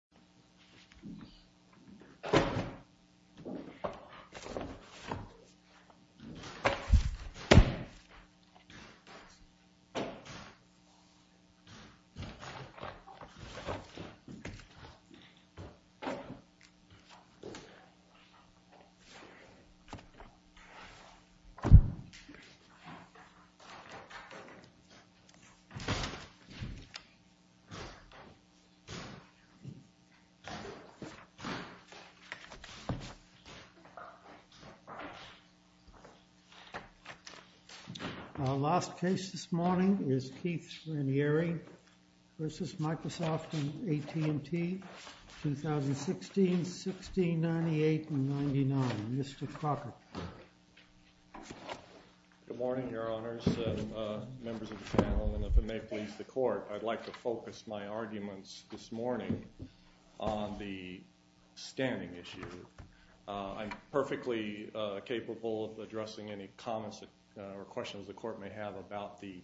Raniere v. Microsoft Corporation 2016, 1698, and 99. Mr. Crockett. Good morning, Your Honors, members of the panel, and if it may please the Court, I'd like to begin with a comment on the standing issue. I'm perfectly capable of addressing any comments or questions the Court may have about the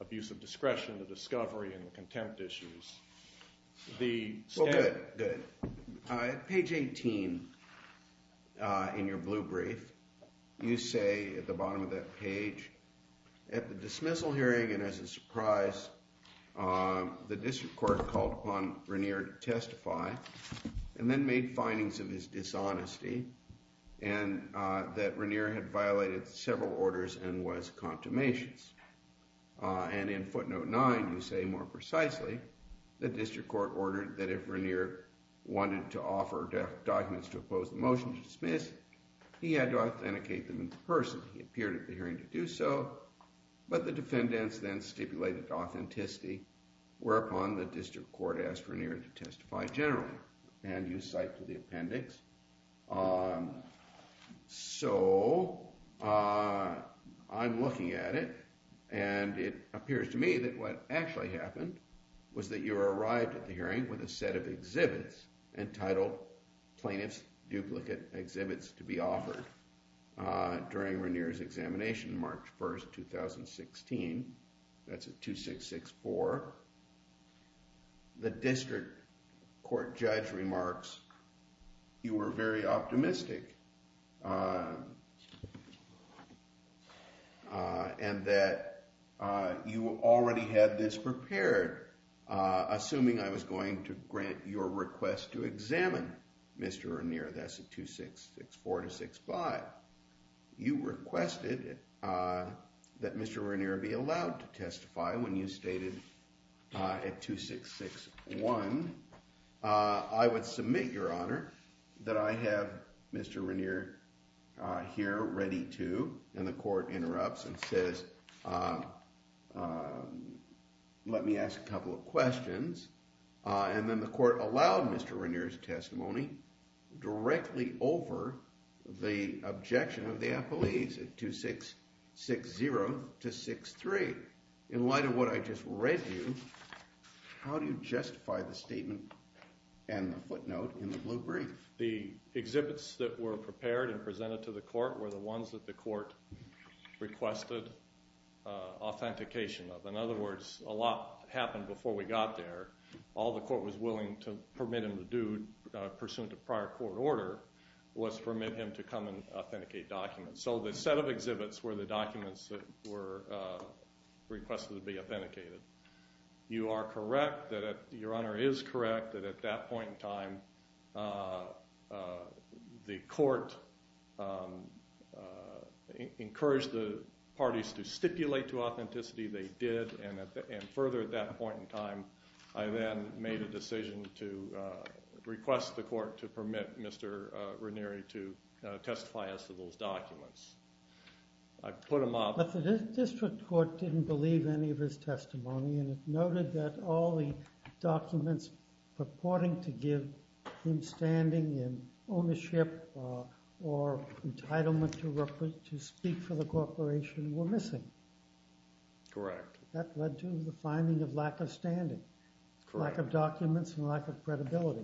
abuse of discretion, the discovery and the contempt issues. Well, good, good. At page 18 in your blue brief, you say at the bottom of that page, at the dismissal hearing and as a surprise, the District Court called upon Raniere to testify and then made findings of his dishonesty and that Raniere had violated several orders and was a consummation. And in footnote 9, you say more precisely the District Court ordered that if Raniere wanted to offer documents to oppose the motion to dismiss, he had to authenticate them in person. He appeared at the hearing to do so, but the defendants then stipulated authenticity, whereupon the District Court asked Raniere to testify generally, and you cite to the appendix. So, I'm looking at it, and it appears to me that what actually happened was that you arrived at the hearing with a set of exhibits entitled Plaintiff's Duplicate Exhibits to be Offered during Raniere's examination March 1, 2016. That's at 2664. The District Court judge remarks, you were very optimistic and that you already had this prepared, assuming I was going to grant your request to examine Mr. Raniere. That's at 2664-265. You requested that Mr. Raniere be allowed to testify when you stated at 2661. I would submit, Your Honor, that I have Mr. Raniere here ready to, and the court interrupts and says, let me ask a couple of questions. And then the court allowed Mr. Raniere's testimony directly over the objection of the appellees at 2660-263. In light of what I just read to you, how do you justify the statement and the footnote in the blue brief? The exhibits that were prepared and presented to the court were the ones that the court requested authentication of. In other words, a lot happened before we got there. All the court was willing to permit him to do, pursuant to prior court order, was permit him to come and authenticate documents. So the set of exhibits were the documents that were requested to be authenticated. You are correct that, Your Honor, is correct that at that point in time, the court encouraged the parties to stipulate to authenticity. They did, and further at that point in time, I then made a decision to request the court to permit Mr. Raniere to testify as to those documents. I put them up. But the district court didn't believe any of his testimony, and it noted that all the documents purporting to give him standing and ownership or entitlement to speak for the corporation were missing. That led to the finding of lack of standing, lack of documents, and lack of credibility.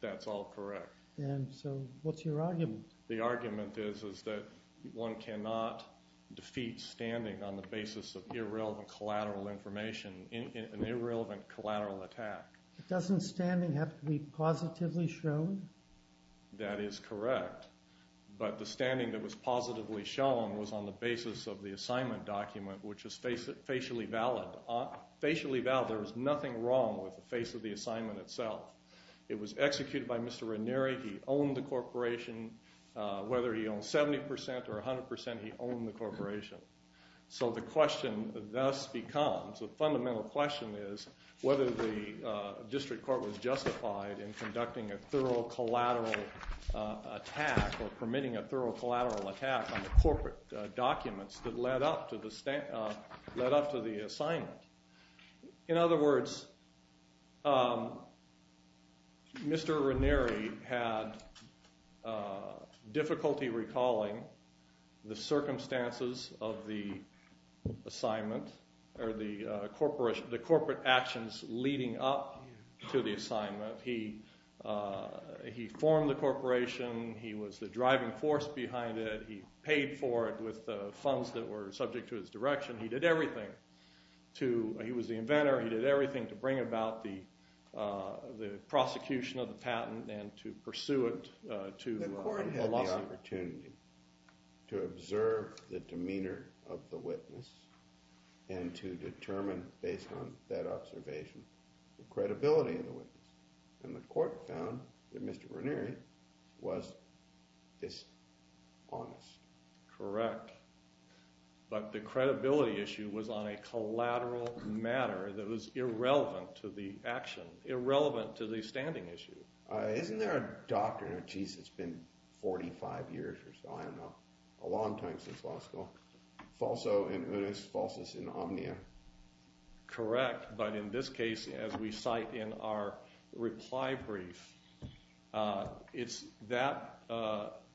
That's all correct. And so what's your argument? The argument is that one cannot defeat standing on the basis of irrelevant collateral information in an irrelevant collateral attack. Doesn't standing have to be positively shown? That is correct, but the standing that was positively shown was on the basis of the assignment document, which was facially valid. There was nothing wrong with the face of the assignment itself. It was executed by Mr. Raniere. He owned the corporation. Whether he owned 70% or 100%, he owned the corporation. So the question thus becomes, the fundamental question is, whether the district court was justified in conducting a thorough collateral attack or permitting a thorough collateral attack on the corporate documents that led up to the assignment. In other words, Mr. Raniere had difficulty recalling the circumstances of the assignment or the corporate actions leading up to the assignment. He formed the corporation. He was the driving force behind it. He paid for it with funds that were subject to his direction. He did everything. He was the inventor. He did everything to bring about the prosecution of the patent and to pursue it to a lawsuit. The court had the opportunity to observe the demeanor of the witness and to determine, based on that observation, the credibility of the witness. And the court found that Mr. Raniere was dishonest. Correct. But the credibility issue was on a collateral matter that was irrelevant to the action, Isn't there a doctrine, it's been 45 years or so, I don't know, a long time since law school, falso in unis, falsus in omnia. Correct, but in this case, as we cite in our reply brief, it's that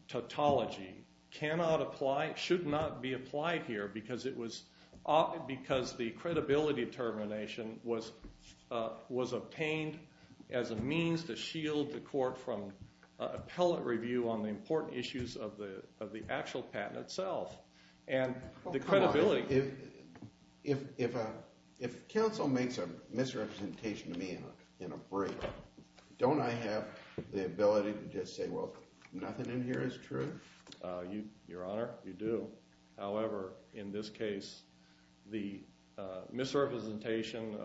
tautology cannot apply, should not be applied here, because the credibility determination was obtained as a means to shield the court from appellate review on the important issues of the actual patent itself. If counsel makes a misrepresentation to me in a brief, don't I have the ability to just say, well, nothing in here is true? Your Honor, you do. However, in this case, the misrepresentation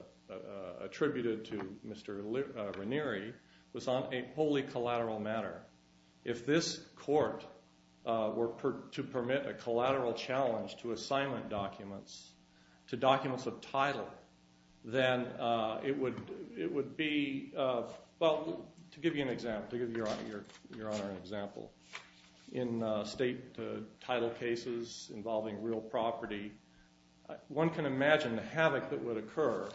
attributed to Mr. Raniere was on a wholly collateral matter. If this court were to permit a collateral challenge to assignment documents, to documents of title, then it would be, well, to give you an example, to give Your Honor an example, in state title cases involving real property, one can imagine the havoc that would occur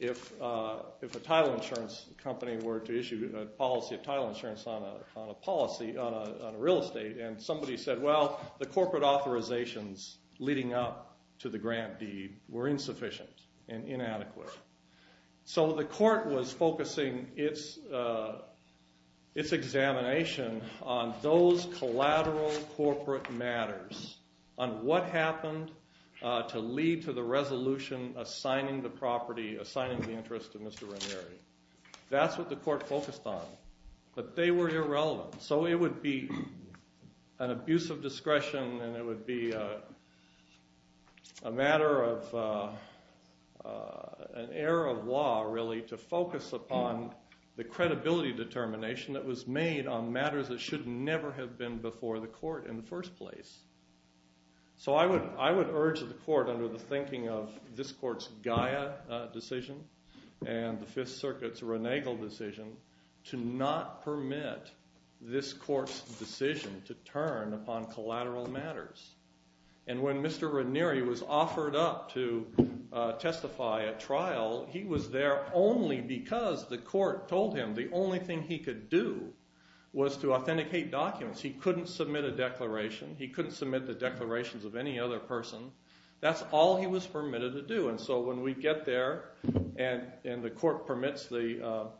if a title insurance company were to issue a policy of title insurance on a policy, on a real estate, and somebody said, well, the corporate authorizations leading up to the grant deed were insufficient and inadequate. So the court was focusing its examination on those collateral corporate matters, on what happened to lead to the resolution assigning the property, assigning the interest to Mr. Raniere. That's what the court focused on, but they were irrelevant. So it would be an abuse of discretion, and it would be a matter of, an error of law, really, to focus upon the credibility determination that was made on matters that should never have been before the court in the first place. So I would urge the court under the thinking of this court's Gaia decision and the Fifth Circuit's Renegal decision to not permit this court's decision to turn upon collateral matters. And when Mr. Raniere was offered up to testify at trial, he was there only because the court told him the only thing he could do was to authenticate documents. He couldn't submit a declaration. He couldn't submit the declarations of any other person. That's all he was permitted to do. And so when we get there, and the court permits the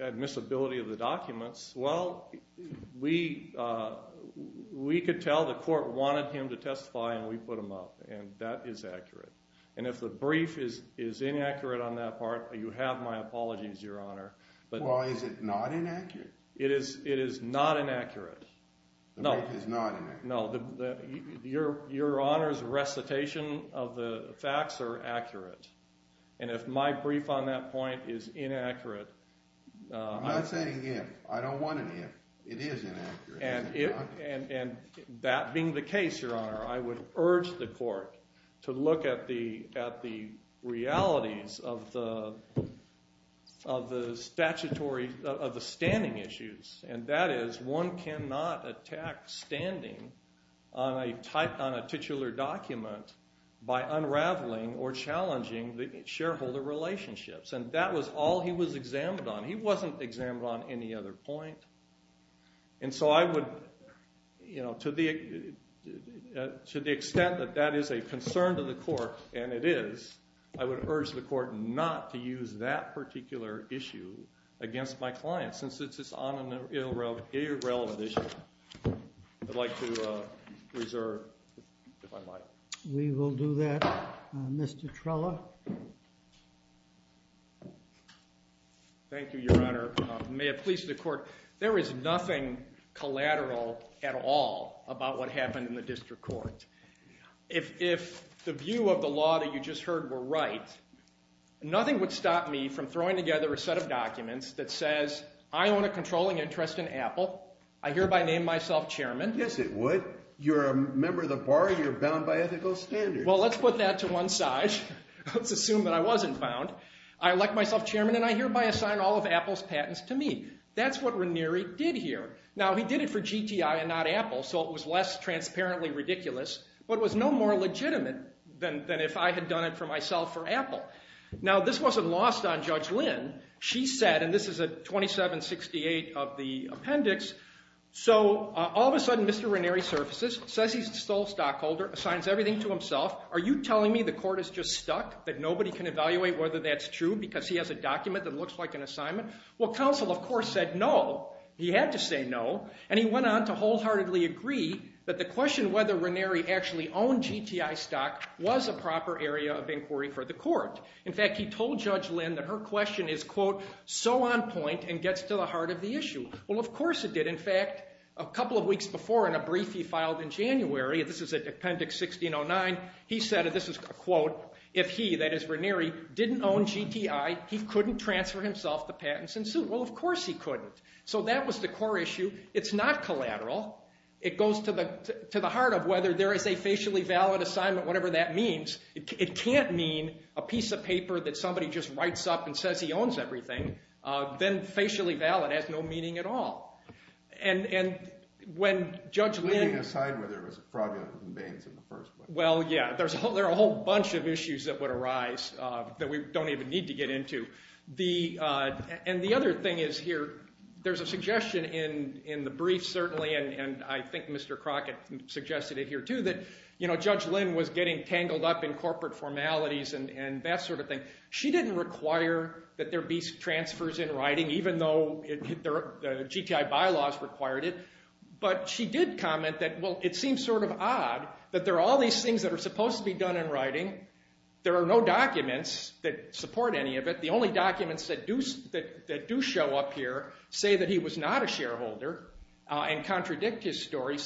admissibility of the documents, well, we could tell the court wanted him to testify, and we put him up. And that is accurate. And if the brief is inaccurate on that part, you have my apologies, Your Honor. Well, is it not inaccurate? It is not inaccurate. The brief is not inaccurate? No. Your Honor's recitation of the facts are accurate. And if my brief on that point is inaccurate... I'm not saying if. I don't want an if. It is inaccurate. And that being the case, Your Honor, I would urge the court to look at the realities of the standing issues. And that is, one cannot attack standing on a titular document by unraveling or challenging the shareholder relationships. And that was all he was examined on. He wasn't examined on any other point. And so to the extent that that is a concern to the court, and it is, I would urge the court not to use that particular issue against my client, since it's an irrelevant issue. I'd like to reserve, if I might. We will do that. Mr. Trella? Thank you, Your Honor. May it please the court, there is nothing collateral at all about what happened in the district court. If the view of the law that you just heard were right, nothing would stop me from throwing together a set of documents that says, I own a controlling interest in Apple. I hereby name myself chairman. Yes, it would. You're a member of the bar. You're bound by ethical standards. Well, let's put that to one side. Let's assume that I wasn't bound. I elect myself chairman, and I hereby assign all of Apple's patents to me. That's what Ranieri did here. Now, he did it for GTI and not Apple, so it was less transparently ridiculous, but it was no more legitimate than if I had done it for myself for Apple. Now, this wasn't lost on Judge Lynn. She said, and this is at 2768 of the appendix, so all of a sudden Mr. Ranieri surfaces, says he's a sole stockholder, assigns everything to himself. Are you telling me the court is just stuck, that nobody can evaluate whether that's true, because he has a document that looks like an assignment? Well, counsel, of course, said no. He had to say no, and he went on to wholeheartedly agree that the question whether Ranieri actually owned GTI stock was a proper area of inquiry for the court. In fact, he told Judge Lynn that her question is, quote, so on point and gets to the heart of the issue. Well, of course it did. In fact, a couple of weeks before in a brief he filed in January, this is at appendix 1609, he said, and this is a quote, if he, that is Ranieri, didn't own GTI, he couldn't transfer himself the patents in suit. Well, of course he couldn't. So that was the core issue. It's not collateral. It goes to the heart of whether there is a facially valid assignment, whatever that means. It can't mean a piece of paper that somebody just writes up and says he owns everything. Then facially valid has no meaning at all. And when Judge Lynn- Leaving aside whether it was fraudulent in the first place. Well, yeah, there are a whole bunch of issues that would arise that we don't even need to get into. And the other thing is here, there's a suggestion in the brief certainly, and I think Mr. Crockett suggested it here too, that Judge Lynn was getting tangled up in corporate formalities and that sort of thing. She didn't require that there be transfers in writing, even though the GTI bylaws required it. But she did comment that, well, it seems sort of odd that there are all these things that are supposed to be done in writing. There are no documents that support any of it. The only documents that do show up here say that he was not a shareholder and contradict his story.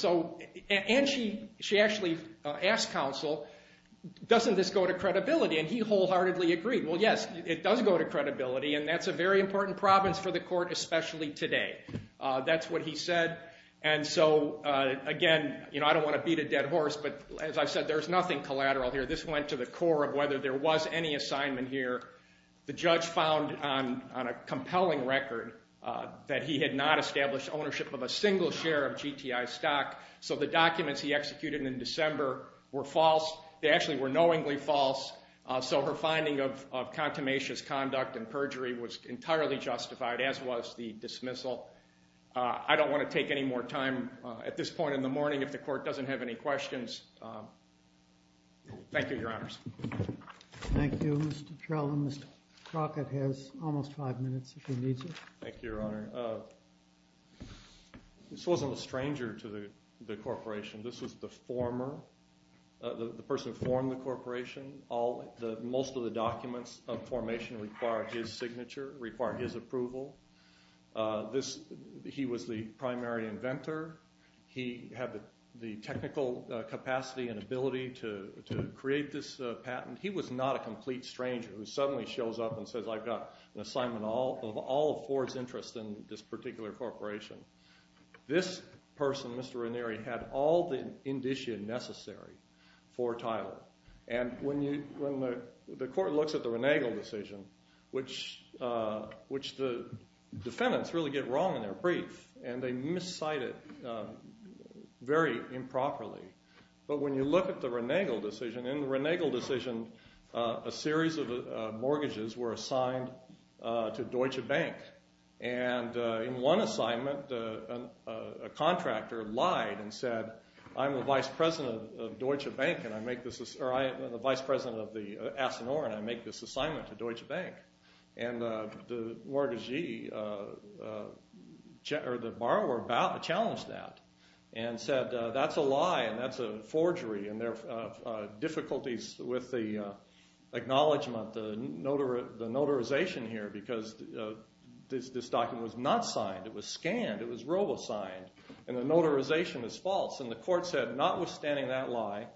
And she actually asked counsel, doesn't this go to credibility? And he wholeheartedly agreed. Well, yes, it does go to credibility, and that's a very important province for the court, especially today. That's what he said. And so, again, I don't want to beat a dead horse, but as I've said, there's nothing collateral here. This went to the core of whether there was any assignment here. The judge found on a compelling record that he had not established ownership of a single share of GTI stock, so the documents he executed in December were false. They actually were knowingly false, so her finding of contumacious conduct and perjury was entirely justified, as was the dismissal. I don't want to take any more time at this point in the morning if the court doesn't have any questions. Thank you, Your Honors. Thank you, Mr. Trell. Mr. Crockett has almost five minutes if he needs it. Thank you, Your Honor. This wasn't a stranger to the corporation. This was the former, the person who formed the corporation. Most of the documents of formation require his signature, require his approval. He was the primary inventor. He had the technical capacity and ability to create this patent. He was not a complete stranger who suddenly shows up and says, I've got an assignment of all of Ford's interest in this particular corporation. This person, Mr. Ranieri, had all the indicia necessary for title, and when the court looks at the Renegal decision, which the defendants really get wrong in their brief, and they miscite it very improperly. But when you look at the Renegal decision, in the Renegal decision a series of mortgages were assigned to Deutsche Bank, and in one assignment a contractor lied and said, I'm the vice president of Deutsche Bank, or I'm the vice president of Asinor, and I make this assignment to Deutsche Bank. And the mortgagee, or the borrower challenged that and said, that's a lie and that's a forgery, and there are difficulties with the acknowledgment, the notarization here, because this document was not signed. It was scanned. It was robo-signed, and the notarization is false. And the court said, notwithstanding that lie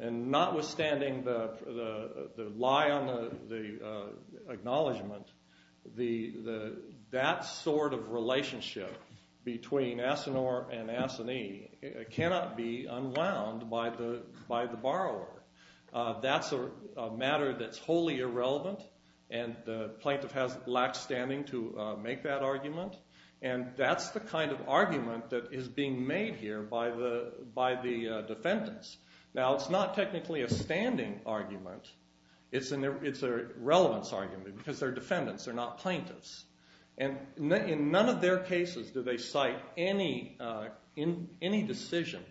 and notwithstanding the lie on the acknowledgment, that sort of relationship between Asinor and Asinie cannot be unwound by the borrower. That's a matter that's wholly irrelevant, and the plaintiff lacks standing to make that argument, and that's the kind of argument that is being made here by the defendants. Now, it's not technically a standing argument. It's a relevance argument, because they're defendants. They're not plaintiffs. And in none of their cases do they cite any decision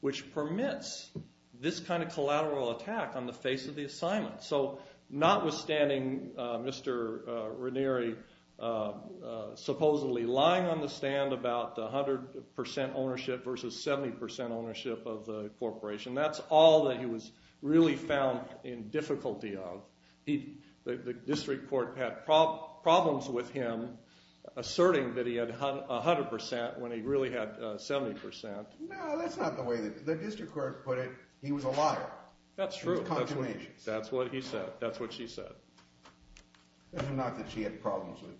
which permits this kind of collateral attack on the face of the assignment. So notwithstanding Mr. Ranieri supposedly lying on the stand about 100% ownership versus 70% ownership of the corporation, that's all that he was really found in difficulty of. The district court had problems with him asserting that he had 100% when he really had 70%. No, that's not the way the district court put it. He was a liar. That's true. That's what he said. That's what she said. It's not that she had problems with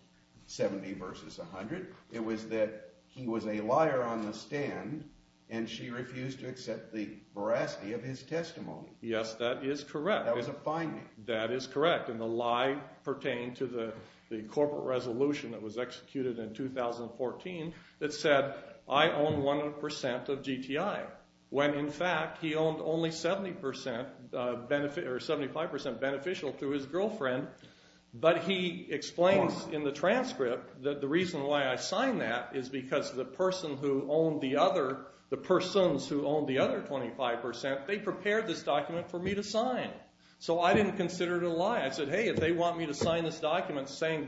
70% versus 100%. It was that he was a liar on the stand, and she refused to accept the veracity of his testimony. Yes, that is correct. That was a finding. That is correct, and the lie pertained to the corporate resolution that was executed in 2014 that said I own 100% of GTI when in fact he owned only 75% beneficial to his girlfriend, but he explains in the transcript that the reason why I signed that is because the persons who owned the other 25%, they prepared this document for me to sign. So I didn't consider it a lie. I said, hey, if they want me to sign this document saying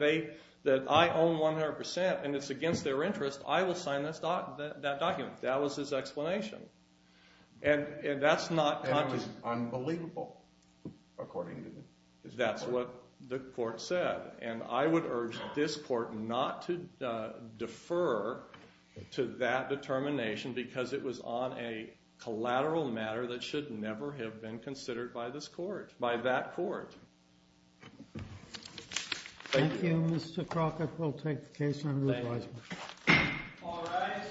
that I own 100% and it's against their interest, I will sign that document. That was his explanation. And that's not conscious. It was unbelievable, according to him. That's what the court said. And I would urge this court not to defer to that determination because it was on a collateral matter that should never have been considered by this court, by that court. Thank you, Mr. Crockett. We'll take the case under advisement. All rise.